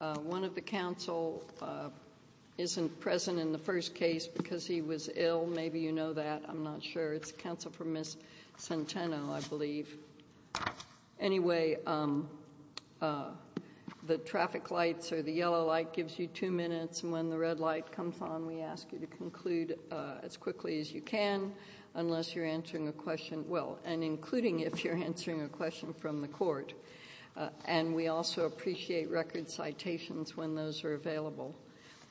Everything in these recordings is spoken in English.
One of the counsel isn't present in the first case because he was ill, maybe you know that, I'm not sure. It's counsel for Ms. Centeno, I believe. Anyway, the traffic lights or the yellow light gives you two minutes, and when the red light comes on, we ask you to conclude as quickly as you can, unless you're answering a question, well, and including if you're answering a question from the court. And we also appreciate record citations when those are available.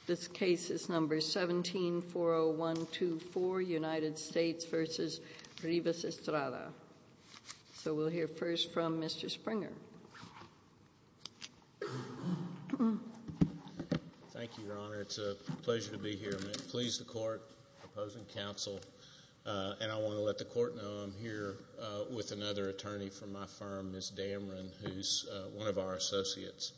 This case is number 17-40124, United States v. Rivas-Estrada. So we'll hear first from Mr. Springer. Thank you, Your Honor. It's a pleasure to be here. I'm pleased to court, opposing counsel, and I want to let the court know I'm here with another attorney from my firm, Ms. Damron, who's one of our associates.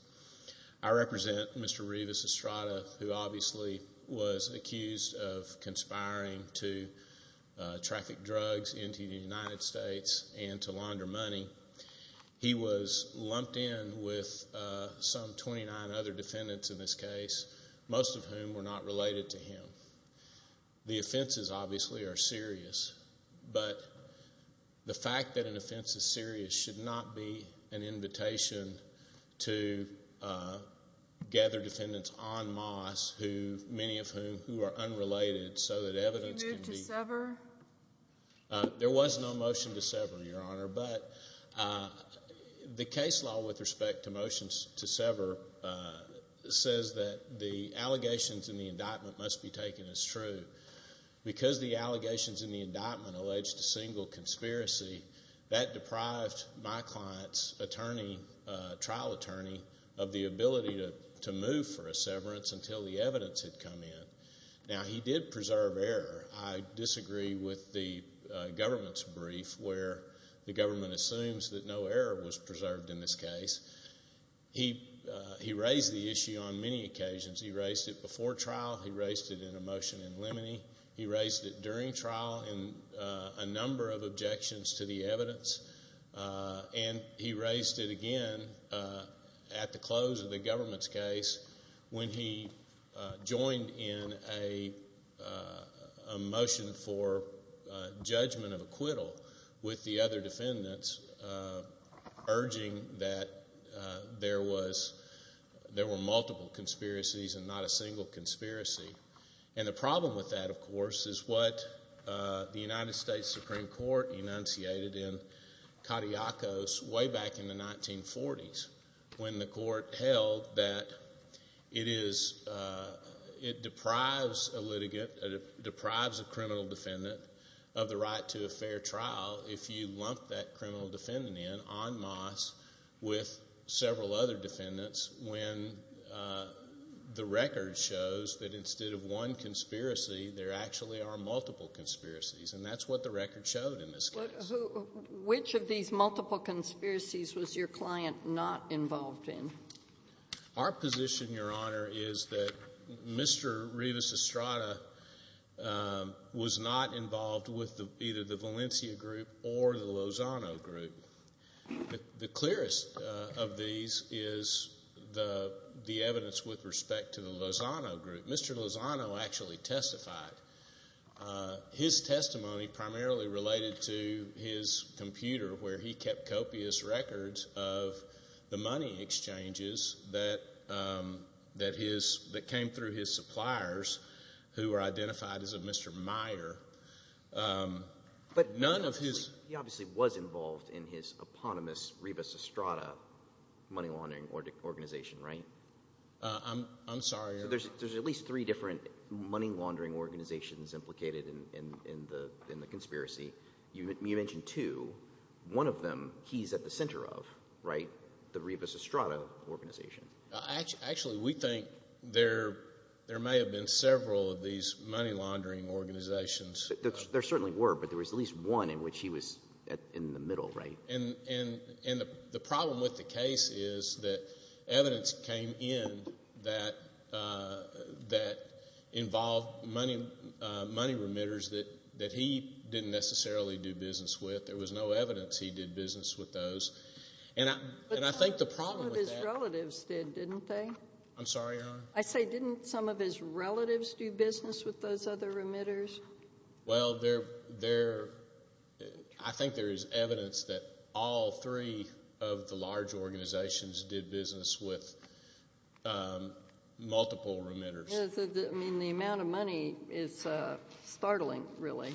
I represent Mr. Rivas-Estrada, who obviously was accused of conspiring to traffic drugs into the United States and to launder money. He was lumped in with some 29 other defendants in this case, most of whom were not related to him. The offenses, obviously, are serious, but the fact that an offense is serious should not be an invitation to gather defendants en masse, many of whom who are unrelated, so that evidence can be— Did you move to sever? There was no motion to sever, Your Honor, but the case law with respect to motions to sever says that the allegations in the indictment must be taken as true. Because the allegations in the indictment alleged a single conspiracy, that deprived my client's attorney, trial attorney, of the ability to move for a severance until the evidence had come in. Now, he did preserve error. I disagree with the government's brief where the government assumes that no error was preserved in this case. He raised the issue on many occasions. He raised it before trial. He raised it in a motion in limine. He raised it during trial in a number of objections to the evidence. And he raised it again at the close of the government's case when he joined in a motion for judgment of acquittal with the other defendants, urging that there were multiple conspiracies and not a single conspiracy. And the problem with that, of course, is what the United States Supreme Court enunciated in Cadillacos way back in the 1940s when the court held that it deprives a litigant, it deprives a criminal defendant of the right to a fair trial if you lump that criminal defendant in en masse with several other defendants when the record shows that instead of one conspiracy, there actually are multiple conspiracies. And that's what the record showed in this case. Which of these multiple conspiracies was your client not involved in? Our position, Your Honor, is that Mr. Rivas Estrada was not involved with either the Valencia group or the Lozano group. The clearest of these is the evidence with respect to the Lozano group. Mr. Lozano actually testified. His testimony primarily related to his computer where he kept copious records of the money exchanges that came through his suppliers who were identified as of Mr. Meyer. But he obviously was involved in his eponymous Rivas Estrada money laundering organization, right? I'm sorry, Your Honor. There's at least three different money laundering organizations implicated in the conspiracy. You mentioned two. One of them he's at the center of, right? The Rivas Estrada organization. Actually, we think there may have been several of these money laundering organizations. There certainly were, but there was at least one in which he was in the middle, right? And the problem with the case is that evidence came in that involved money remitters that he didn't necessarily do business with. There was no evidence he did business with those. But some of his relatives did, didn't they? I'm sorry, Your Honor? I say didn't some of his relatives do business with those other remitters? Well, I think there is evidence that all three of the large organizations did business with multiple remitters. I mean, the amount of money is startling, really.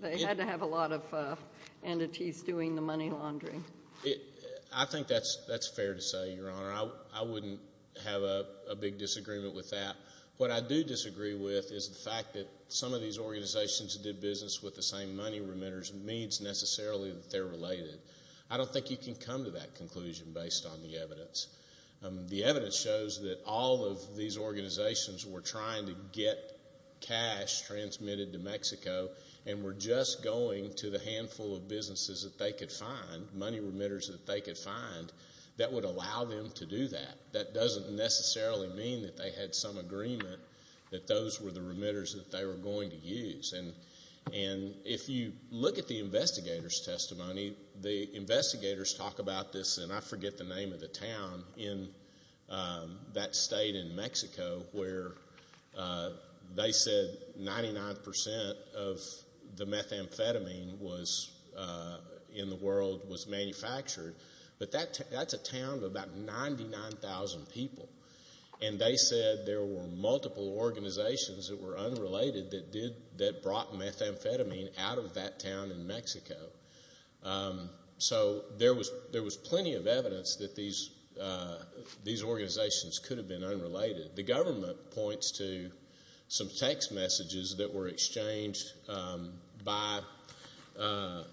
They had to have a lot of entities doing the money laundering. I think that's fair to say, Your Honor. I wouldn't have a big disagreement with that. What I do disagree with is the fact that some of these organizations that did business with the same money remitters means necessarily that they're related. I don't think you can come to that conclusion based on the evidence. The evidence shows that all of these organizations were trying to get cash transmitted to Mexico and were just going to the handful of businesses that they could find, money remitters that they could find, that would allow them to do that. That doesn't necessarily mean that they had some agreement that those were the remitters that they were going to use. And if you look at the investigators' testimony, the investigators talk about this, and I forget the name of the town in that state in Mexico, where they said 99% of the methamphetamine in the world was manufactured. But that's a town of about 99,000 people. And they said there were multiple organizations that were unrelated that brought methamphetamine out of that town in Mexico. So there was plenty of evidence that these organizations could have been unrelated. The government points to some text messages that were exchanged by a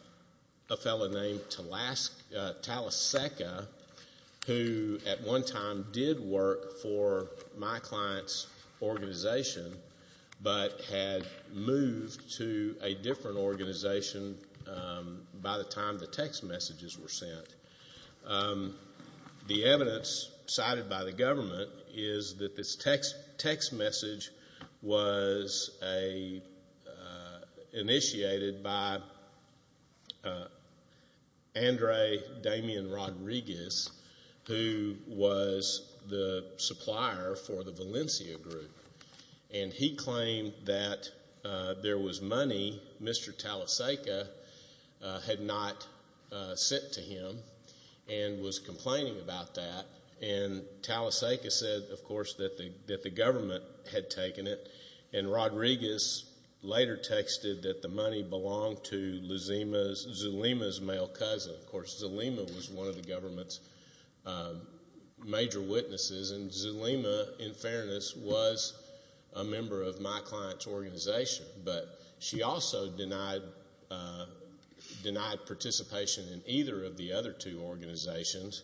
fellow named Talaseca, who at one time did work for my client's organization, but had moved to a different organization by the time the text messages were sent. The evidence cited by the government is that this text message was initiated by Andre Damian Rodriguez, who was the supplier for the Valencia Group. And he claimed that there was money Mr. Talaseca had not sent to him and was complaining about that. And Talaseca said, of course, that the government had taken it. And Rodriguez later texted that the money belonged to Zulima's male cousin. Of course, Zulima was one of the government's major witnesses. And Zulima, in fairness, was a member of my client's organization. But she also denied participation in either of the other two organizations.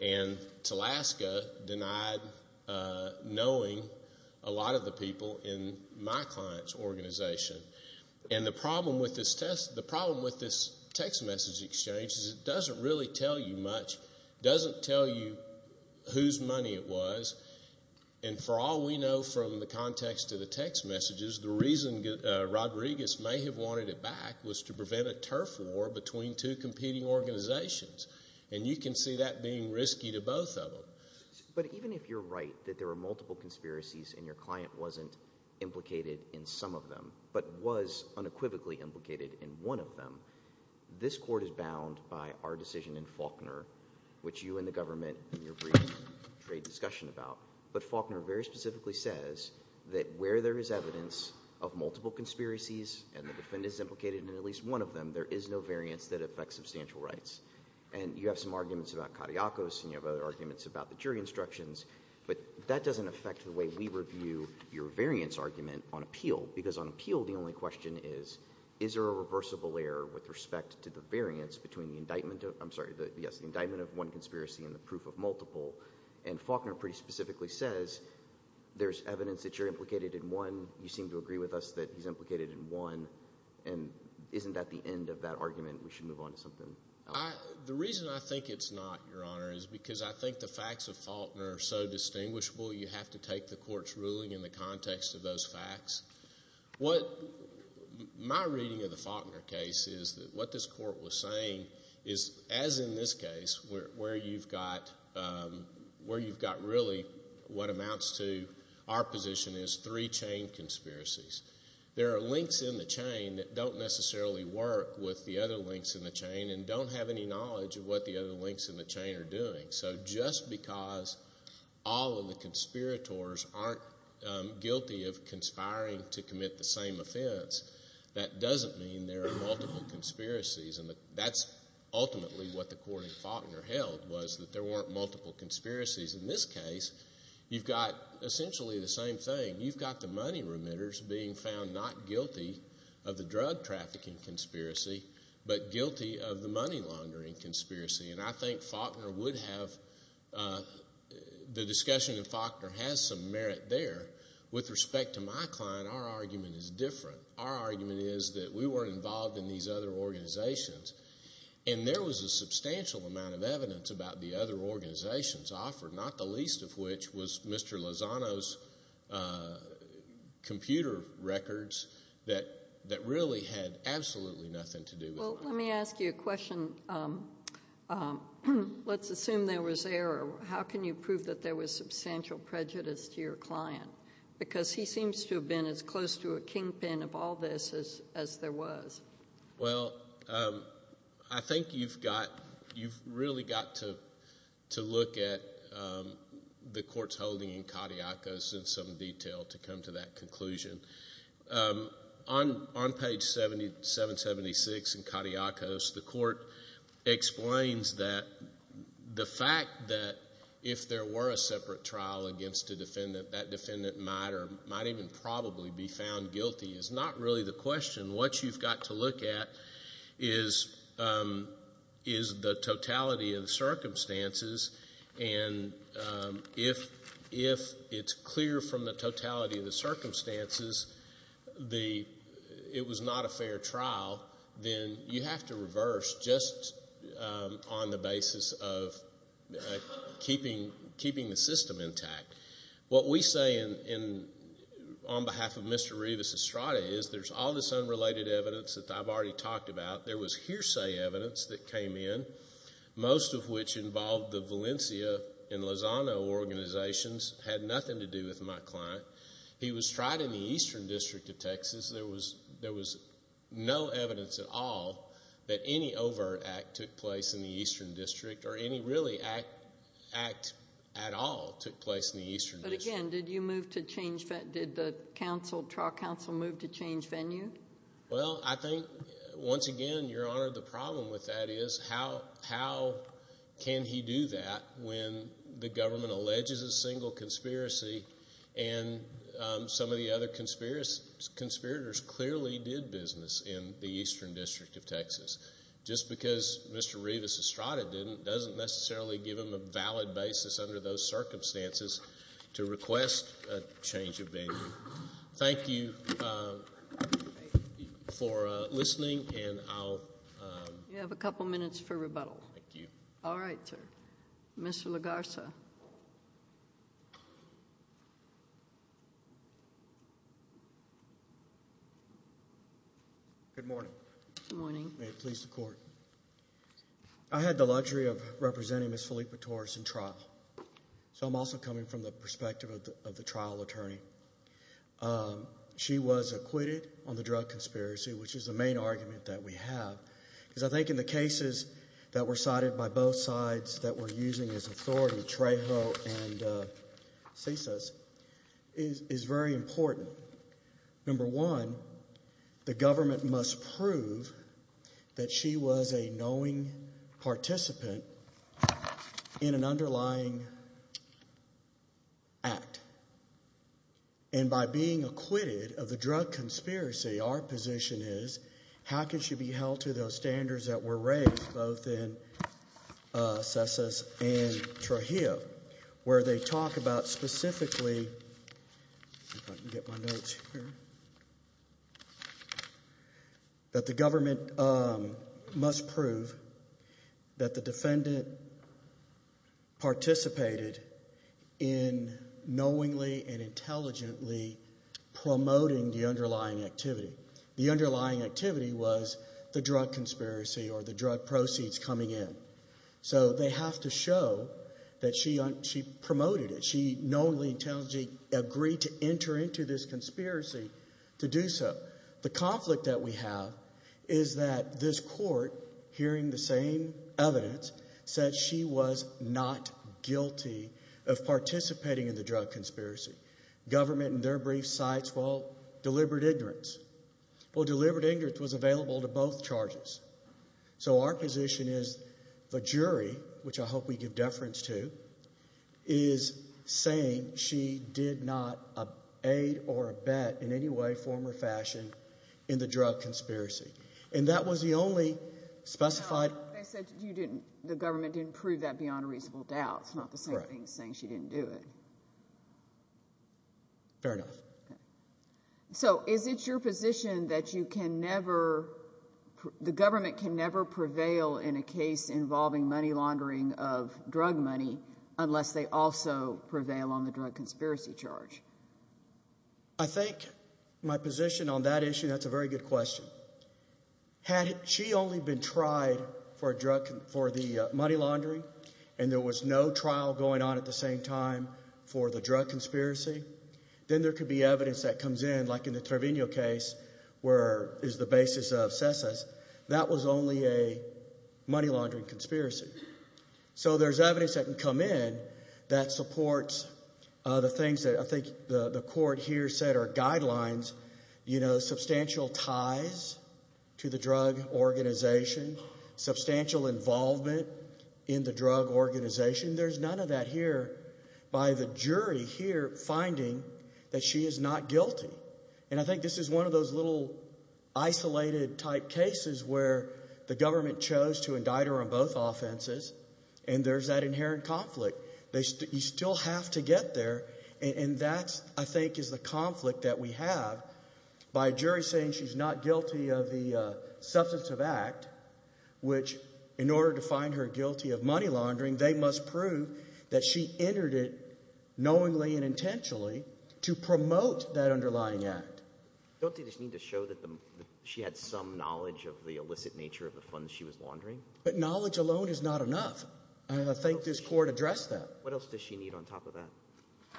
And Talaseca denied knowing a lot of the people in my client's organization. And the problem with this text message exchange is it doesn't really tell you much. It doesn't tell you whose money it was. And for all we know from the context of the text messages, the reason Rodriguez may have wanted it back was to prevent a turf war between two competing organizations. And you can see that being risky to both of them. But even if you're right that there were multiple conspiracies and your client wasn't implicated in some of them, but was unequivocally implicated in one of them, this court is bound by our decision in Faulkner, which you and the government in your brief trade discussion about. But Faulkner very specifically says that where there is evidence of multiple conspiracies and the defendant is implicated in at least one of them, there is no variance that affects substantial rights. And you have some arguments about Kadiakos, and you have other arguments about the jury instructions. But that doesn't affect the way we review your variance argument on appeal. Because on appeal the only question is, is there a reversible error with respect to the variance between the indictment of – I'm sorry, yes, the indictment of one conspiracy and the proof of multiple. And Faulkner pretty specifically says there's evidence that you're implicated in one. You seem to agree with us that he's implicated in one. And isn't that the end of that argument? We should move on to something else. The reason I think it's not, Your Honor, is because I think the facts of Faulkner are so distinguishable you have to take the court's ruling in the context of those facts. What my reading of the Faulkner case is that what this court was saying is, as in this case, where you've got really what amounts to our position is three chain conspiracies. There are links in the chain that don't necessarily work with the other links in the chain and don't have any knowledge of what the other links in the chain are doing. So just because all of the conspirators aren't guilty of conspiring to commit the same offense, that doesn't mean there are multiple conspiracies. And that's ultimately what the court in Faulkner held was that there weren't multiple conspiracies. In this case, you've got essentially the same thing. You've got the money remitters being found not guilty of the drug trafficking conspiracy but guilty of the money laundering conspiracy. And I think Faulkner would have the discussion in Faulkner has some merit there. With respect to my client, our argument is different. Our argument is that we weren't involved in these other organizations. And there was a substantial amount of evidence about the other organizations offered, not the least of which was Mr. Lozano's computer records that really had absolutely nothing to do with them. Well, let me ask you a question. Let's assume there was error. How can you prove that there was substantial prejudice to your client? Because he seems to have been as close to a kingpin of all this as there was. Well, I think you've really got to look at the court's holding in Caudillacos in some detail to come to that conclusion. On page 776 in Caudillacos, the court explains that the fact that if there were a separate trial against a defendant, that defendant might or might even probably be found guilty is not really the question. What you've got to look at is the totality of the circumstances. And if it's clear from the totality of the circumstances it was not a fair trial, then you have to reverse just on the basis of keeping the system intact. What we say on behalf of Mr. Rivas Estrada is there's all this unrelated evidence that I've already talked about. There was hearsay evidence that came in, most of which involved the Valencia and Lozano organizations. It had nothing to do with my client. He was tried in the Eastern District of Texas. There was no evidence at all that any overt act took place in the Eastern District or any really act at all took place in the Eastern District. But again, did the trial counsel move to change venue? Well, I think once again, Your Honor, the problem with that is how can he do that when the government alleges a single conspiracy and some of the other conspirators clearly did business in the Eastern District of Texas? Just because Mr. Rivas Estrada didn't doesn't necessarily give him a valid basis under those circumstances to request a change of venue. Thank you for listening, and I'll— You have a couple minutes for rebuttal. Thank you. All right, sir. Mr. LaGarza. Good morning. Good morning. May it please the Court. I had the luxury of representing Ms. Felipe Torres in trial, so I'm also coming from the perspective of the trial attorney. She was acquitted on the drug conspiracy, which is the main argument that we have, because I think in the cases that were cited by both sides that were using as authority, Trejo and Cisas, is very important. Number one, the government must prove that she was a knowing participant in an underlying act, and by being acquitted of the drug conspiracy, our position is, how can she be held to those standards that were raised both in Cisas and Trejo, where they talk about specifically—if I can get my notes here— that the government must prove that the defendant participated in knowingly and intelligently promoting the underlying activity. The underlying activity was the drug conspiracy or the drug proceeds coming in. So they have to show that she promoted it. She knowingly and intelligently agreed to enter into this conspiracy to do so. The conflict that we have is that this Court, hearing the same evidence, said she was not guilty of participating in the drug conspiracy. Government, in their brief, cites, well, deliberate ignorance. Well, deliberate ignorance was available to both charges. So our position is the jury, which I hope we give deference to, is saying she did not aid or abet in any way, form, or fashion in the drug conspiracy. And that was the only specified— No, they said you didn't—the government didn't prove that beyond a reasonable doubt. It's not the same thing as saying she didn't do it. Fair enough. So is it your position that you can never— the government can never prevail in a case involving money laundering of drug money unless they also prevail on the drug conspiracy charge? I think my position on that issue, that's a very good question. Had she only been tried for the money laundering and there was no trial going on at the same time for the drug conspiracy, then there could be evidence that comes in, like in the Treviño case, where it's the basis of CESA. That was only a money laundering conspiracy. So there's evidence that can come in that supports the things that I think the court here said are guidelines. You know, substantial ties to the drug organization, substantial involvement in the drug organization. There's none of that here by the jury here finding that she is not guilty. And I think this is one of those little isolated-type cases where the government chose to indict her on both offenses, and there's that inherent conflict. You still have to get there, and that, I think, is the conflict that we have. By a jury saying she's not guilty of the substantive act, which in order to find her guilty of money laundering, they must prove that she entered it knowingly and intentionally to promote that underlying act. Don't they just need to show that she had some knowledge of the illicit nature of the funds she was laundering? But knowledge alone is not enough, and I think this court addressed that. What else does she need on top of that?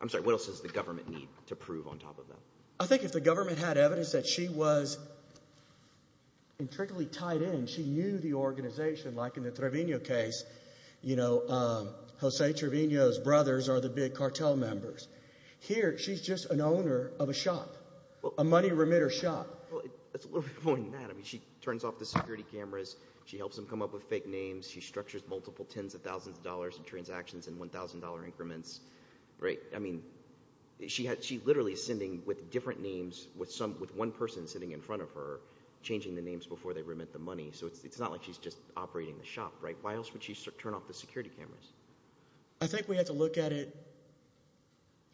I'm sorry, what else does the government need to prove on top of that? I think if the government had evidence that she was intricately tied in, she knew the organization, like in the Trevino case, you know, Jose Trevino's brothers are the big cartel members. Here, she's just an owner of a shop, a money remitter shop. Well, that's a little bit more than that. I mean, she turns off the security cameras. She helps them come up with fake names. She structures multiple tens of thousands of dollars in transactions in $1,000 increments. I mean, she literally is sending with different names with one person sitting in front of her, changing the names before they remit the money. So it's not like she's just operating the shop. Why else would she turn off the security cameras? I think we have to look at it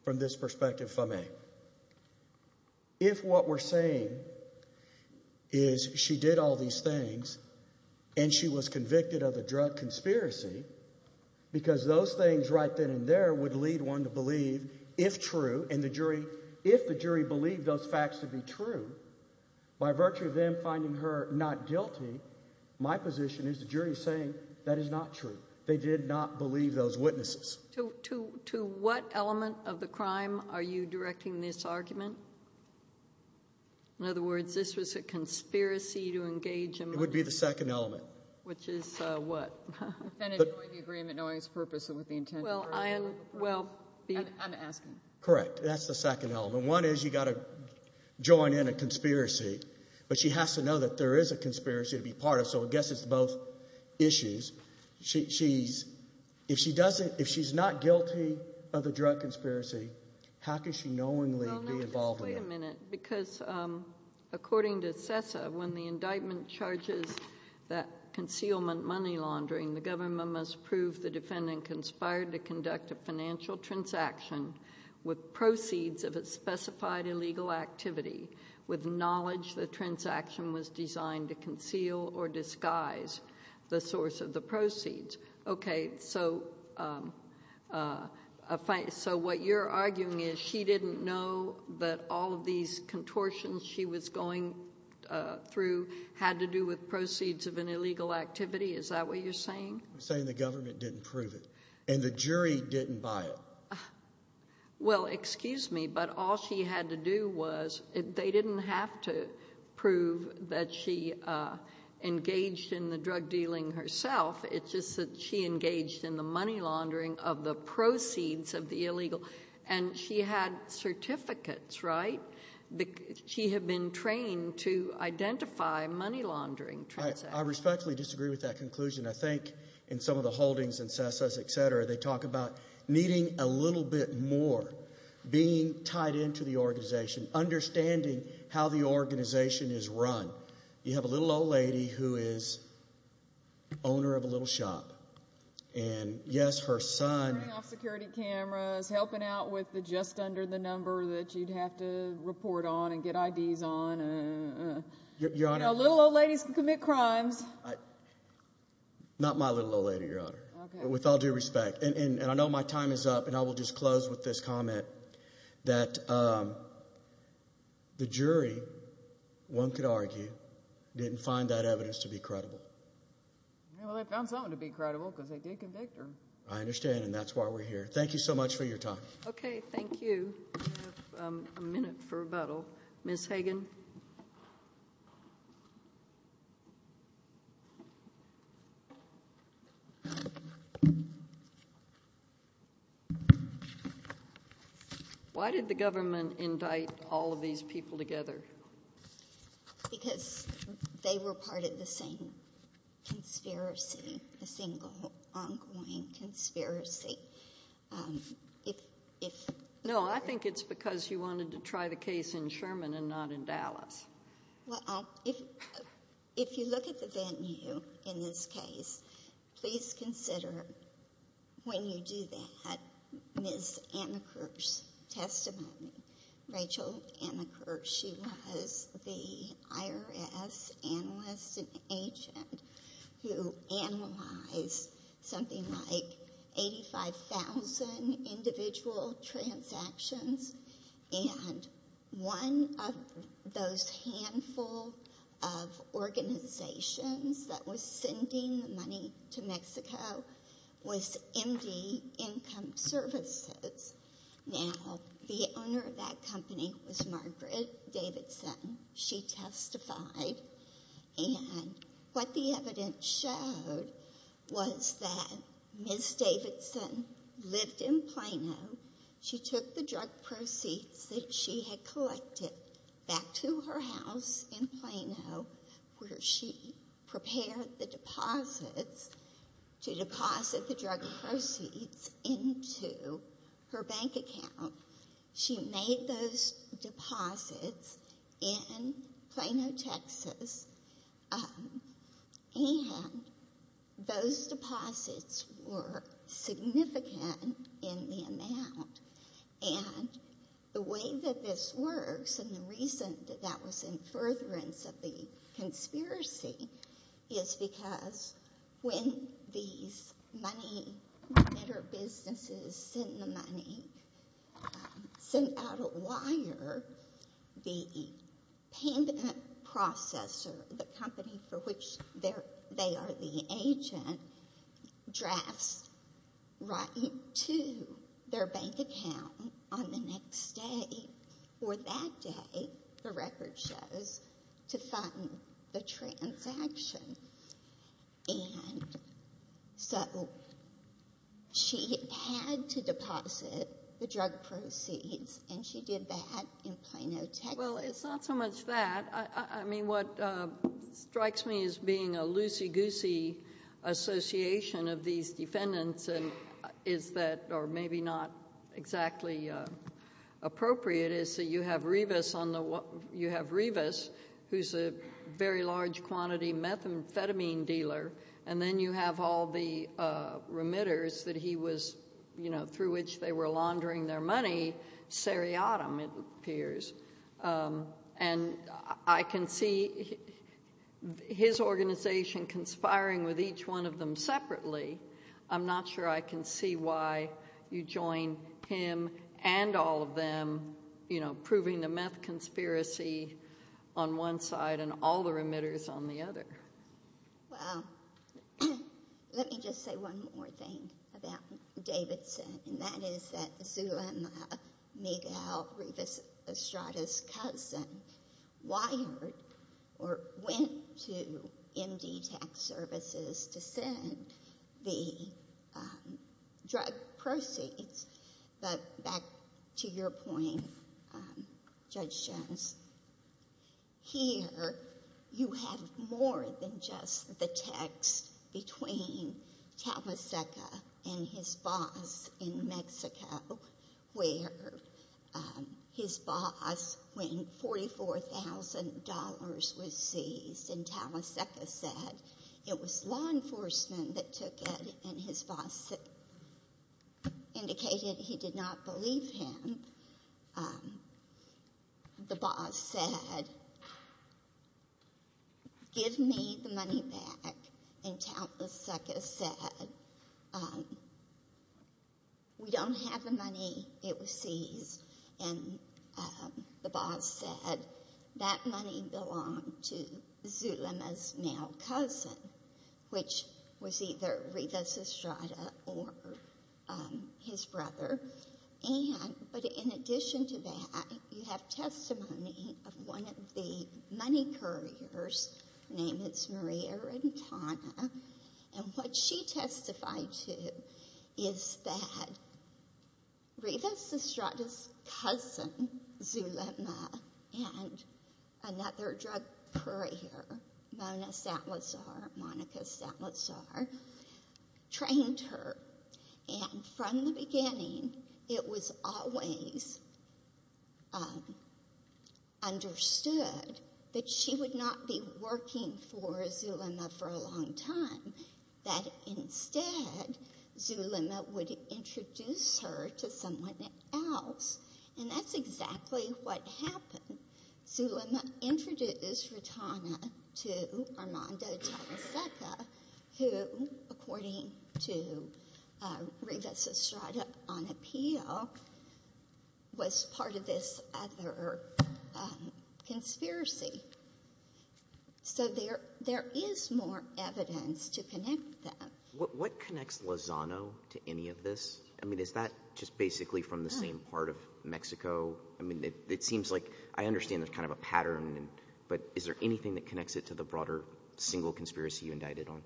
from this perspective, if I may. If what we're saying is she did all these things and she was convicted of a drug conspiracy because those things right then and there would lead one to believe, if true, and the jury, if the jury believed those facts to be true, by virtue of them finding her not guilty, my position is the jury is saying that is not true. They did not believe those witnesses. To what element of the crime are you directing this argument? In other words, this was a conspiracy to engage in money? It would be the second element. Which is what? Affinity with the agreement, knowing its purpose, and with the intent to bring it forward. Well, I'm asking. Correct. That's the second element. One is you've got to join in a conspiracy, but she has to know that there is a conspiracy to be part of, so I guess it's both issues. If she's not guilty of a drug conspiracy, how can she knowingly be involved in it? Wait a minute, because according to CESA, when the indictment charges that concealment money laundering, the government must prove the defendant conspired to conduct a financial transaction with proceeds of a specified illegal activity, with knowledge the transaction was designed to conceal or disguise the source of the proceeds. Okay, so what you're arguing is she didn't know that all of these contortions she was going through had to do with proceeds of an illegal activity? Is that what you're saying? I'm saying the government didn't prove it, and the jury didn't buy it. Well, excuse me, but all she had to do was they didn't have to prove that she engaged in the drug dealing herself. It's just that she engaged in the money laundering of the proceeds of the illegal, and she had certificates, right? She had been trained to identify money laundering transactions. I respectfully disagree with that conclusion. I think in some of the holdings in CESA, et cetera, they talk about needing a little bit more, being tied into the organization, understanding how the organization is run. You have a little old lady who is owner of a little shop, and yes, her son— Turning off security cameras, helping out with the just under the number that you'd have to report on and get IDs on. You know, little old ladies can commit crimes. Not my little old lady, Your Honor, with all due respect. And I know my time is up, and I will just close with this comment, that the jury, one could argue, didn't find that evidence to be credible. Well, they found something to be credible because they did convict her. I understand, and that's why we're here. Thank you so much for your time. Okay, thank you. We have a minute for rebuttal. Ms. Hagan? Why did the government indict all of these people together? Because they were part of the same conspiracy, the same ongoing conspiracy. No, I think it's because you wanted to try the case in Sherman and not in Dallas. Well, if you look at the venue in this case, please consider, when you do that, Ms. Amaker's testimony. Rachel Amaker, she was the IRS analyst and agent who analyzed something like 85,000 individual transactions, and one of those handful of organizations that was sending the money to Mexico was MD Income Services. Now, the owner of that company was Margaret Davidson. She testified, and what the evidence showed was that Ms. Davidson lived in Plano. She took the drug proceeds that she had collected back to her house in Plano, where she prepared the deposits to deposit the drug proceeds into her bank account. She made those deposits in Plano, Texas, and those deposits were significant in the amount. And the way that this works, and the reason that that was in furtherance of the conspiracy, is because when these money-manager businesses send the money, send out a wire, the payment processor, the company for which they are the agent, drafts right into their bank account on the next day. Or that day, the record shows, to fund the transaction. And so she had to deposit the drug proceeds, and she did that in Plano, Texas. Well, it's not so much that. I mean, what strikes me as being a loosey-goosey association of these defendants is that, or maybe not exactly appropriate, is that you have Rivas, who's a very large-quantity methamphetamine dealer, and then you have all the remitters that he was... through which they were laundering their money, Seriatim, it appears. And I can see his organization conspiring with each one of them separately. I'm not sure I can see why you join him and all of them, you know, proving the meth conspiracy on one side and all the remitters on the other. Well, let me just say one more thing about Davidson, and that is that Zula and Miguel, Rivas Estrada's cousin, wired or went to MD Tax Services to send the drug proceeds. But back to your point, Judge Jones, here you have more than just the text between Taliseca and his boss in Mexico, where his boss, when $44,000 was seized, and Taliseca said it was law enforcement that took it, and his boss indicated he did not believe him. The boss said, give me the money back, and Taliseca said, we don't have the money, it was seized. And the boss said that money belonged to Zula's male cousin, which was either Rivas Estrada or his brother. But in addition to that, you have testimony of one of the money couriers, her name is Maria Rentana, and what she testified to is that Rivas Estrada's cousin, Zula, and another drug courier, Mona Salazar, Monica Salazar, trained her, and from the beginning, it was always understood that she would not be working for Zula for a long time, that instead, Zula would introduce her to someone else, and that's exactly what happened. Zula introduced Rentana to Armando Taliseca, who, according to Rivas Estrada on appeal, was part of this other conspiracy. So there is more evidence to connect them. What connects Lozano to any of this? I mean, is that just basically from the same part of Mexico? I mean, it seems like I understand there's kind of a pattern, but is there anything that connects it to the broader single conspiracy you indicted on?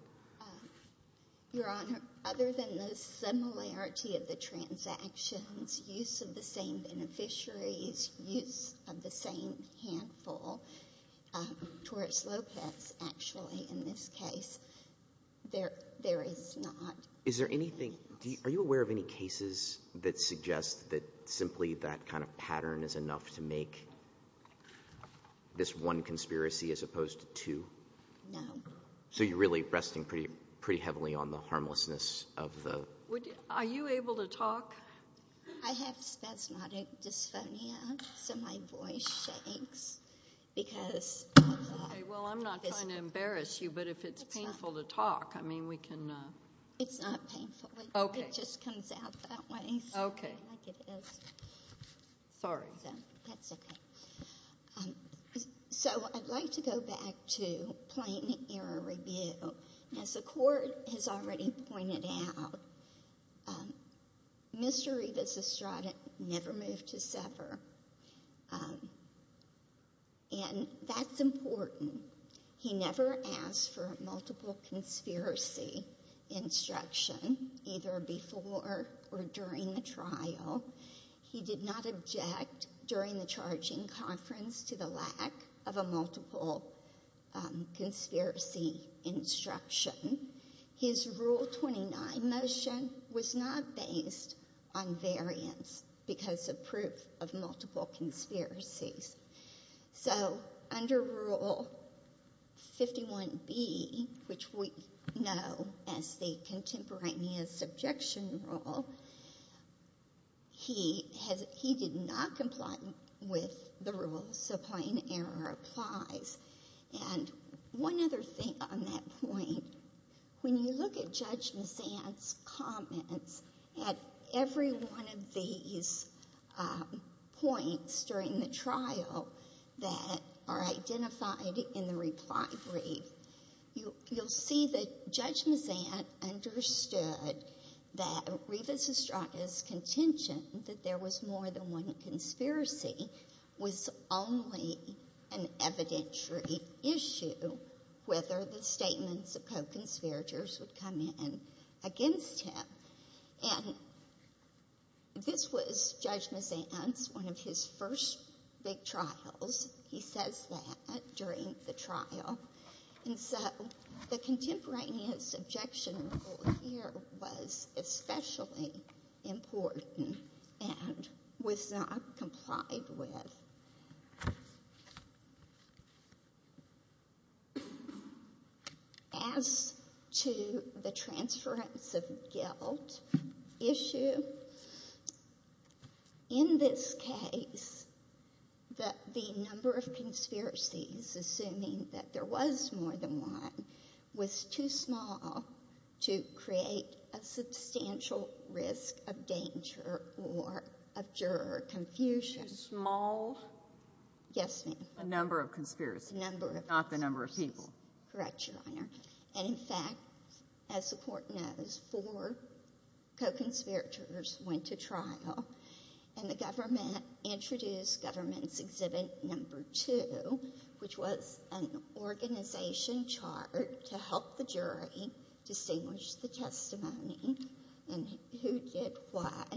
Your Honor, other than the similarity of the transactions, use of the same beneficiaries, use of the same handful, Torres Lopez, actually, in this case, there is not. Is there anything, are you aware of any cases that suggest that simply that kind of pattern is enough to make this one conspiracy as opposed to two? No. So you're really resting pretty heavily on the harmlessness of the... Are you able to talk? I have spasmodic dysphonia, so my voice shakes because... Well, I'm not trying to embarrass you, but if it's painful to talk, I mean, we can... It's not painful. Okay. It just comes out that way. Okay. Like it is. Sorry, then. That's okay. So I'd like to go back to plain error review. As the Court has already pointed out, Mr. Rivas Estrada never moved to sever, and that's important. He never asked for a multiple conspiracy instruction, either before or during the trial. He did not object during the charging conference to the lack of a multiple conspiracy instruction. His Rule 29 motion was not based on variance because of proof of multiple conspiracies. So under Rule 51B, which we know as the contemporaneous objection rule, he did not comply with the rule, so plain error applies. And one other thing on that point, when you look at Judge Mazant's comments at every one of these points during the trial that are identified in the reply brief, you'll see that Judge Mazant understood that Rivas Estrada's contention that there was more than one conspiracy was only an evidentiary issue, whether the statements of co-conspirators would come in against him. And this was Judge Mazant's, one of his first big trials. He says that during the trial. And so the contemporaneous objection rule here was especially important and was not complied with. As to the transference of guilt issue, in this case the number of conspiracies, assuming that there was more than one, was too small to create a substantial risk of danger or of juror confusion. Too small? Yes, ma'am. A number of conspiracies. A number of conspiracies. Not the number of people. Correct, Your Honor. And in fact, as the Court knows, four co-conspirators went to trial, and the government introduced Government's Exhibit No. 2, which was an organization chart to help the jury distinguish the testimony and who did what.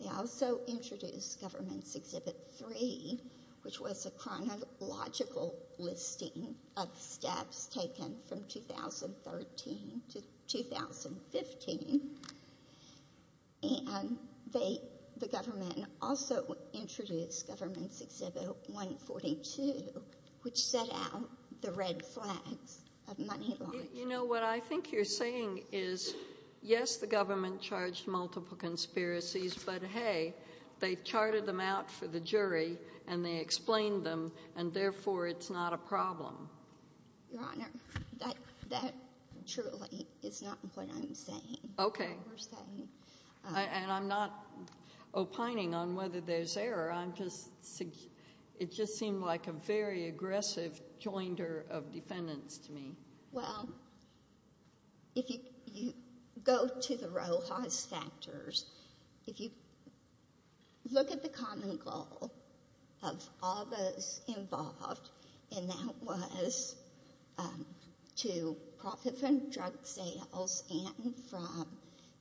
They also introduced Government's Exhibit 3, which was a chronological listing of steps taken from 2013 to 2015. And the government also introduced Government's Exhibit 142, which set out the red flags of money laundering. You know, what I think you're saying is, yes, the government charged multiple conspiracies, but, hey, they've charted them out for the jury and they explained them, and therefore it's not a problem. Your Honor, that truly is not what I'm saying. Okay. And I'm not opining on whether there's error. It just seemed like a very aggressive joinder of defendants to me. Well, if you go to the Rojas factors, if you look at the common goal of all those involved, and that was to profit from drug sales and from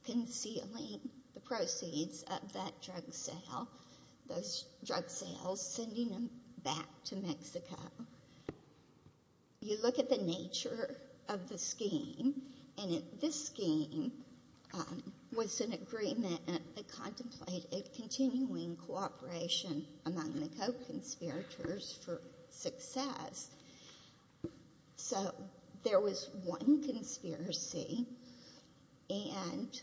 concealing the proceeds of that drug sale, those drug sales, sending them back to Mexico, you look at the nature of the scheme, and this scheme was an agreement that contemplated continuing cooperation among the co-conspirators for success. So there was one conspiracy, and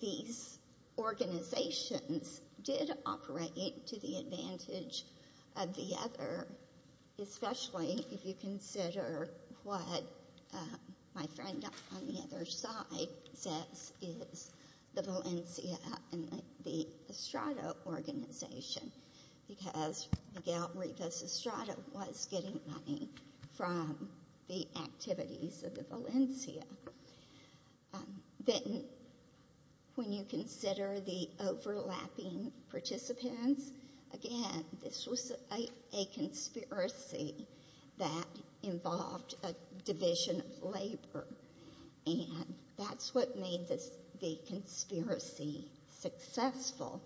these organizations did operate to the advantage of the other, especially if you consider what my friend on the other side says is the Valencia and the Estrada organization, because Miguel Rivas Estrada was getting money from the activities of the Valencia. Then when you consider the overlapping participants, again, this was a conspiracy that involved a division of labor, and that's what made the conspiracy successful.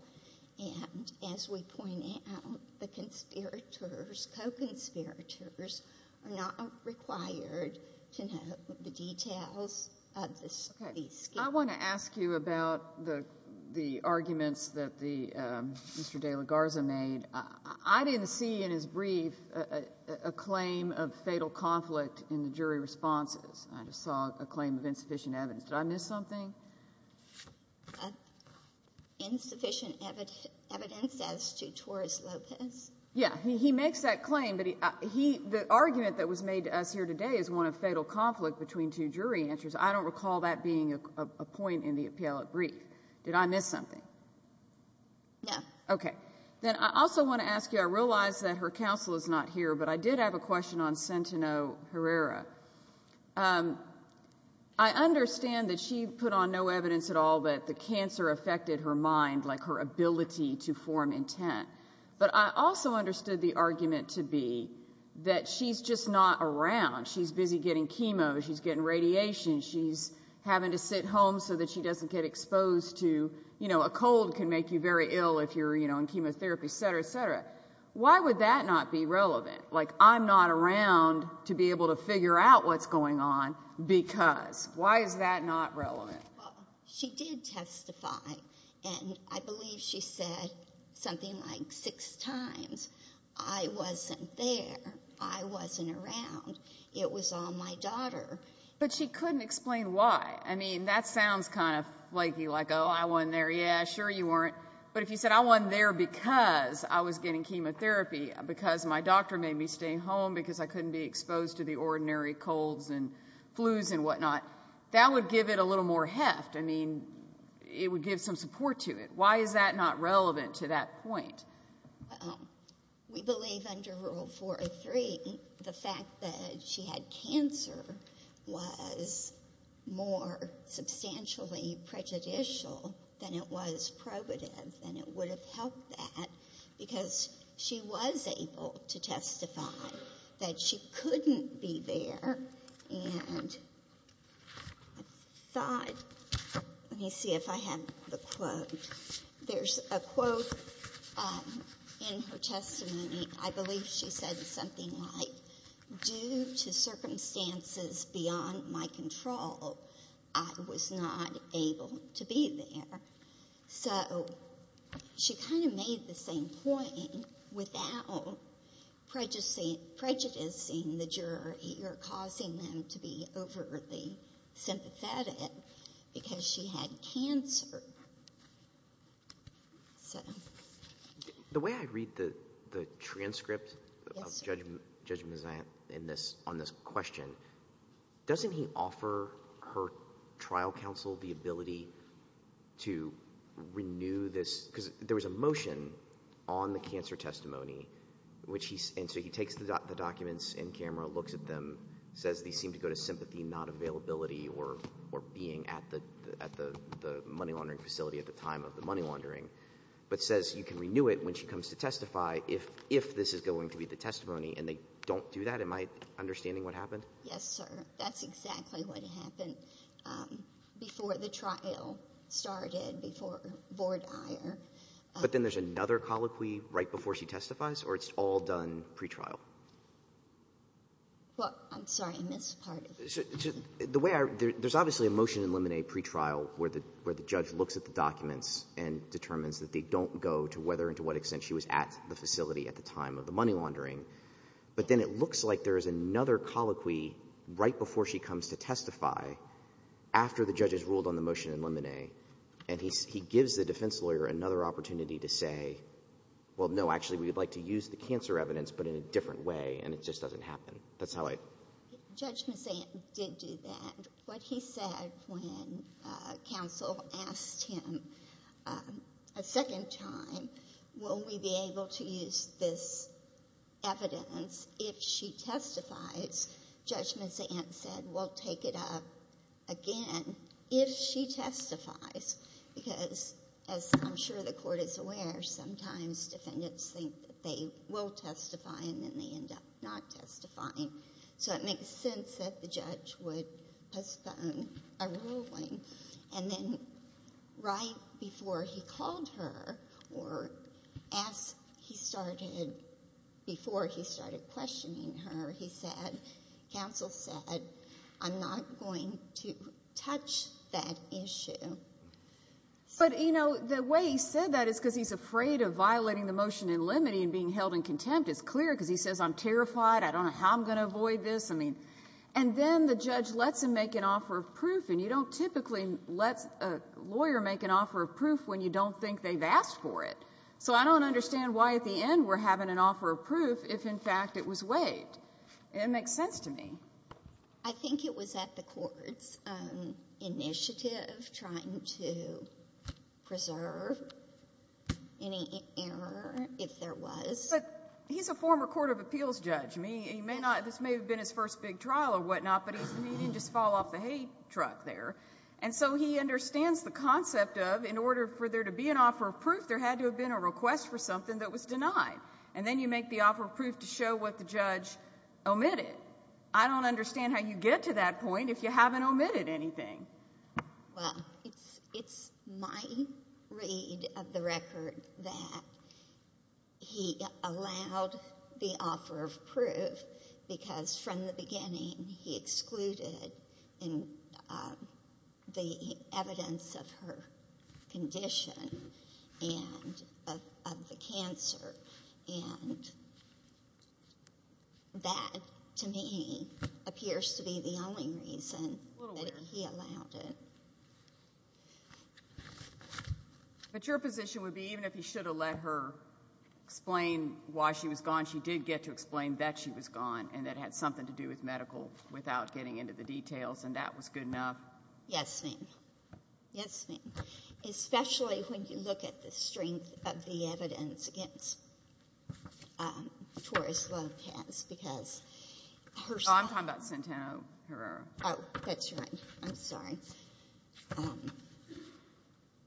And as we point out, the conspirators, co-conspirators, are not required to know the details of the study scheme. I want to ask you about the arguments that Mr. De La Garza made. I didn't see in his brief a claim of fatal conflict in the jury responses. I just saw a claim of insufficient evidence. Did I miss something? Insufficient evidence as to Torres Lopez. Yeah, he makes that claim, but the argument that was made to us here today is one of fatal conflict between two jury answers. I don't recall that being a point in the appellate brief. Did I miss something? No. Okay. Then I also want to ask you, I realize that her counsel is not here, but I did have a question on Centeno Herrera. I understand that she put on no evidence at all that the cancer affected her mind, like her ability to form intent. But I also understood the argument to be that she's just not around. She's busy getting chemo. She's getting radiation. She's having to sit home so that she doesn't get exposed to, you know, a cold can make you very ill if you're, you know, in chemotherapy, et cetera, et cetera. Why would that not be relevant? Like, I'm not around to be able to figure out what's going on because. Why is that not relevant? Well, she did testify, and I believe she said something like six times, I wasn't there. I wasn't around. It was on my daughter. But she couldn't explain why. I mean, that sounds kind of flaky, like, oh, I wasn't there. Yeah, sure you weren't. But if you said I wasn't there because I was getting chemotherapy, because my doctor made me stay home, because I couldn't be exposed to the ordinary colds and flus and whatnot, that would give it a little more heft. I mean, it would give some support to it. Why is that not relevant to that point? Well, we believe under Rule 403 the fact that she had cancer was more substantially prejudicial than it was probative, and it would have helped that because she was able to testify that she couldn't be there. And I thought, let me see if I have the quote. There's a quote in her testimony. I believe she said something like, due to circumstances beyond my control, I was not able to be there. So she kind of made the same point without prejudicing the jury or causing them to be overly sympathetic because she had cancer. The way I read the transcript of Judge Mazzant on this question, doesn't he offer her trial counsel the ability to renew this? Because there was a motion on the cancer testimony, and so he takes the documents in camera, looks at them, says these seem to go to sympathy not availability or being at the money laundering facility at the time of the money laundering, but says you can renew it when she comes to testify if this is going to be the testimony. And they don't do that? Am I understanding what happened? Yes, sir. That's exactly what happened before the trial started, before Vordier. But then there's another colloquy right before she testifies, or it's all done pretrial? Well, I'm sorry. I missed part of it. The way I read it, there's obviously a motion to eliminate pretrial where the judge looks at the documents and determines that they don't go to whether and to what extent she was at the facility at the time of the money laundering. But then it looks like there is another colloquy right before she comes to testify after the judge has ruled on the motion in limine. And he gives the defense lawyer another opportunity to say, well, no, actually we would like to use the cancer evidence, but in a different way, and it just doesn't happen. That's how I— Judge Mazzant did do that. What he said when counsel asked him a second time, will we be able to use this evidence if she testifies, Judge Mazzant said, we'll take it up again if she testifies. Because as I'm sure the court is aware, sometimes defendants think that they will testify and then they end up not testifying. So it makes sense that the judge would postpone a ruling. And then right before he called her or as he started—before he started questioning her, he said, counsel said, I'm not going to touch that issue. But, you know, the way he said that is because he's afraid of violating the motion in limine and being held in contempt. It's clear because he says, I'm terrified. I don't know how I'm going to avoid this. And then the judge lets him make an offer of proof, and you don't typically let a lawyer make an offer of proof when you don't think they've asked for it. So I don't understand why at the end we're having an offer of proof if, in fact, it was waived. It makes sense to me. I think it was at the court's initiative trying to preserve any error, if there was. But he's a former court of appeals judge. I mean, he may not—this may have been his first big trial or whatnot, but he didn't just fall off the hay truck there. And so he understands the concept of, in order for there to be an offer of proof, there had to have been a request for something that was denied. And then you make the offer of proof to show what the judge omitted. I don't understand how you get to that point if you haven't omitted anything. Well, it's my read of the record that he allowed the offer of proof because from the beginning he excluded the evidence of her condition and of the cancer. And that, to me, appears to be the only reason that he allowed it. But your position would be even if he should have let her explain why she was gone, she did get to explain that she was gone and that it had something to do with medical without getting into the details, and that was good enough? Yes, ma'am. Yes, ma'am. Especially when you look at the strength of the evidence against Torres Lopez because her— Oh, I'm talking about Santana Herrera. Oh, that's right. I'm sorry.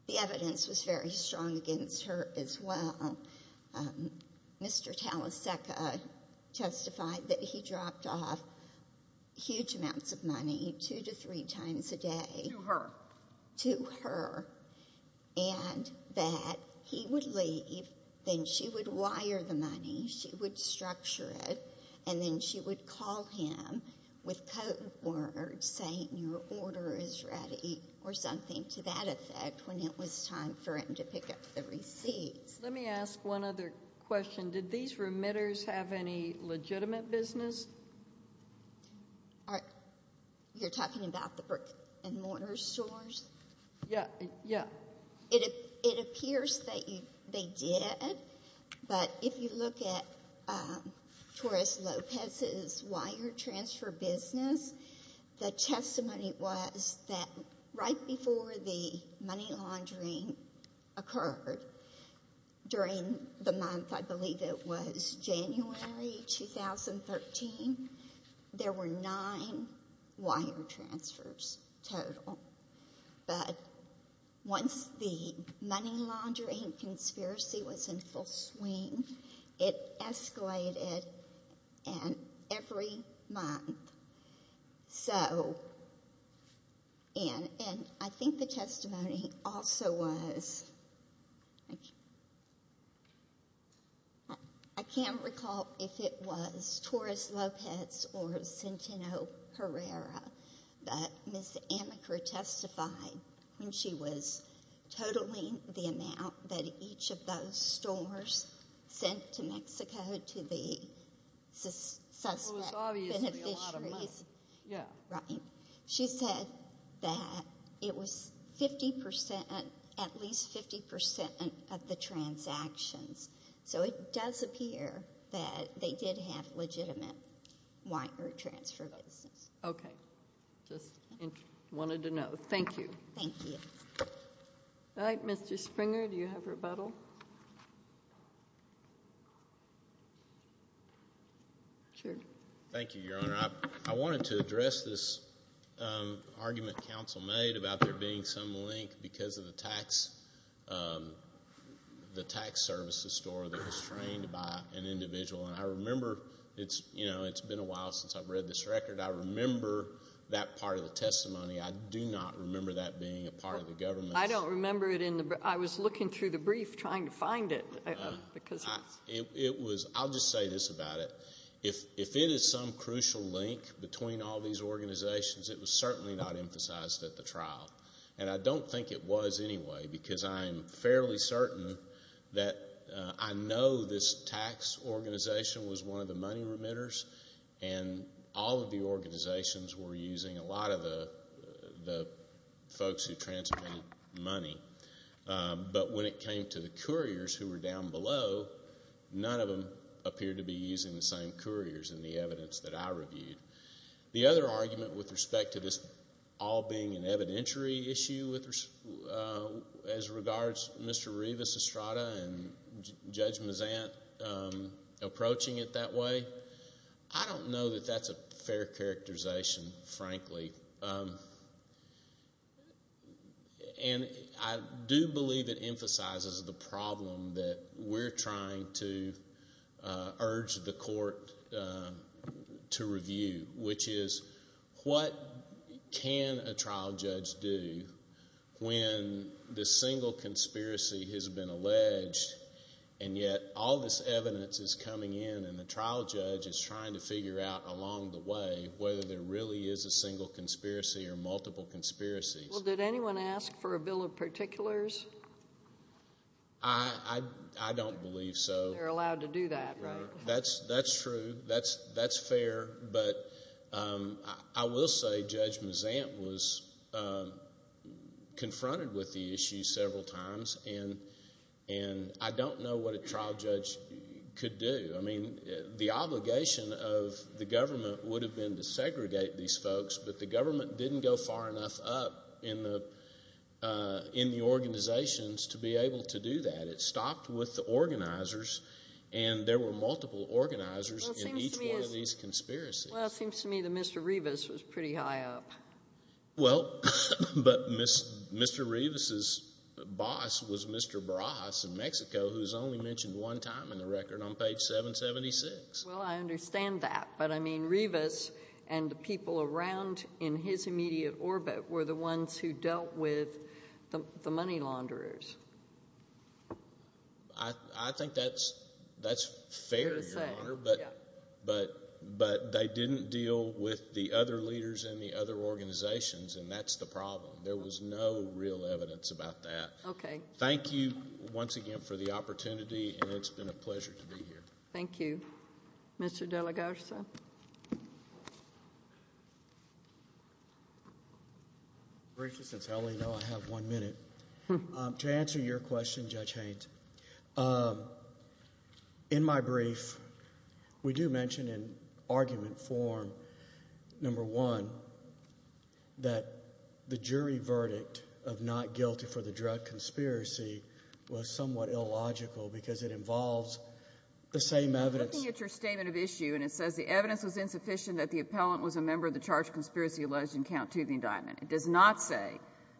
The evidence was very strong against her as well. Mr. Taleseca testified that he dropped off huge amounts of money two to three times a day— To her. To her, and that he would leave, then she would wire the money, she would structure it, and then she would call him with code words saying your order is ready or something to that effect when it was time for him to pick up the receipts. Let me ask one other question. Did these remitters have any legitimate business? You're talking about the brick and mortar stores? Yeah. It appears that they did, but if you look at Torres Lopez's wire transfer business, the testimony was that right before the money laundering occurred, during the month, I believe it was January 2013, there were nine wire transfers total. But once the money laundering conspiracy was in full swing, it escalated every month. So—and I think the testimony also was—I can't recall if it was Torres Lopez or Centeno Herrera, but Ms. Amaker testified when she was totaling the amount that each of those stores sent to Mexico to the suspect beneficiaries. It was obviously a lot of money. Right. She said that it was 50%, at least 50% of the transactions. So it does appear that they did have legitimate wire transfer business. Okay. Just wanted to know. Thank you. Thank you. All right, Mr. Springer, do you have rebuttal? Sure. Thank you, Your Honor. I wanted to address this argument counsel made about there being some link because of the tax services store that was trained by an individual. And I remember it's been a while since I've read this record. I remember that part of the testimony. I do not remember that being a part of the government. I don't remember it. I was looking through the brief trying to find it. I'll just say this about it. If it is some crucial link between all these organizations, it was certainly not emphasized at the trial. And I don't think it was anyway because I'm fairly certain that I know this tax organization was one of the money remitters, and all of the organizations were using a lot of the folks who transmitted money. But when it came to the couriers who were down below, none of them appeared to be using the same couriers in the evidence that I reviewed. The other argument with respect to this all being an evidentiary issue as regards Mr. Revis Estrada and Judge Mazant approaching it that way, I don't know that that's a fair characterization, frankly. And I do believe it emphasizes the problem that we're trying to urge the court to review, which is what can a trial judge do when this single conspiracy has been alleged and yet all this evidence is coming in and the trial judge is trying to figure out along the way whether there really is a single conspiracy or multiple conspiracies. Well, did anyone ask for a bill of particulars? I don't believe so. They're allowed to do that, right? That's true. That's fair. But I will say Judge Mazant was confronted with the issue several times, and I don't know what a trial judge could do. I mean, the obligation of the government would have been to segregate these folks, but the government didn't go far enough up in the organizations to be able to do that. It stopped with the organizers, and there were multiple organizers in each one of these conspiracies. Well, it seems to me that Mr. Revis was pretty high up. Well, but Mr. Revis's boss was Mr. Barajas in Mexico, who is only mentioned one time in the record on page 776. Well, I understand that, but I mean Revis and the people around in his immediate orbit were the ones who dealt with the money launderers. I think that's fair, Your Honor, but they didn't deal with the other leaders in the other organizations, and that's the problem. There was no real evidence about that. Okay. Thank you once again for the opportunity, and it's been a pleasure to be here. Thank you. Mr. De La Garza. Since I only know I have one minute. To answer your question, Judge Haines, in my brief, we do mention in argument form, number one, that the jury verdict of not guilty for the drug conspiracy was somewhat illogical because it involves the same evidence. I'm looking at your statement of issue, and it says the evidence was insufficient that the appellant was a member of the charged conspiracy alleged in Count Toothing Diamond. It does not say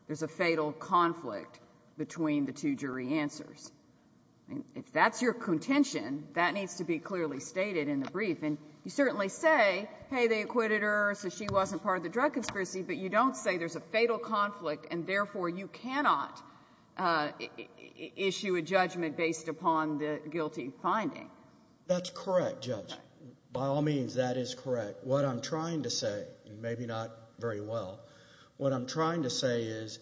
there's a fatal conflict between the two jury answers. If that's your contention, that needs to be clearly stated in the brief, and you certainly say, hey, they acquitted her so she wasn't part of the drug conspiracy, but you don't say there's a fatal conflict, and therefore you cannot issue a judgment based upon the guilty finding. That's correct, Judge. By all means, that is correct. But what I'm trying to say, and maybe not very well, what I'm trying to say is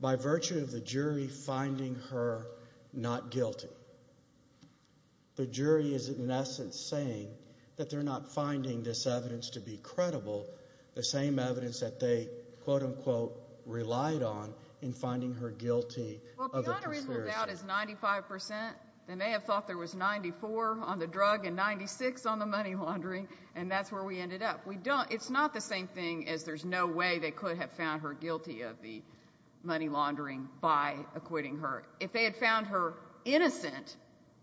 by virtue of the jury finding her not guilty, the jury is in essence saying that they're not finding this evidence to be credible, the same evidence that they, quote, unquote, relied on in finding her guilty of the conspiracy. Well, beyond a reasonable doubt is 95 percent. They may have thought there was 94 on the drug and 96 on the money laundering, and that's where we ended up. It's not the same thing as there's no way they could have found her guilty of the money laundering by acquitting her. If they had found her innocent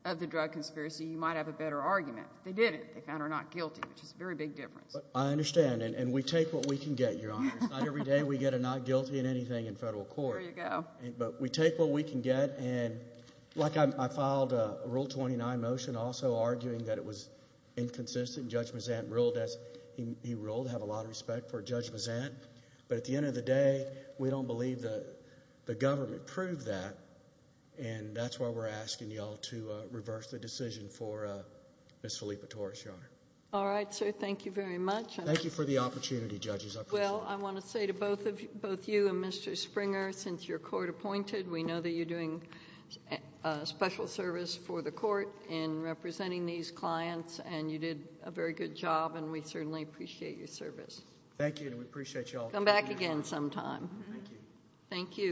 of the drug conspiracy, you might have a better argument. They didn't. They found her not guilty, which is a very big difference. I understand, and we take what we can get, Your Honor. It's not every day we get a not guilty in anything in federal court. There you go. But we take what we can get. I filed a Rule 29 motion also arguing that it was inconsistent. Judge Mazant ruled as he ruled. I have a lot of respect for Judge Mazant. But at the end of the day, we don't believe the government proved that, and that's why we're asking you all to reverse the decision for Ms. Filippa Torres, Your Honor. All right, sir. Thank you very much. Thank you for the opportunity, judges. I appreciate it. Well, I want to say to both you and Mr. Springer, since you're court appointed, we know that you're doing special service for the court in representing these clients, and you did a very good job, and we certainly appreciate your service. Thank you, and we appreciate you all taking the time. Come back again sometime. Thank you. Thank you.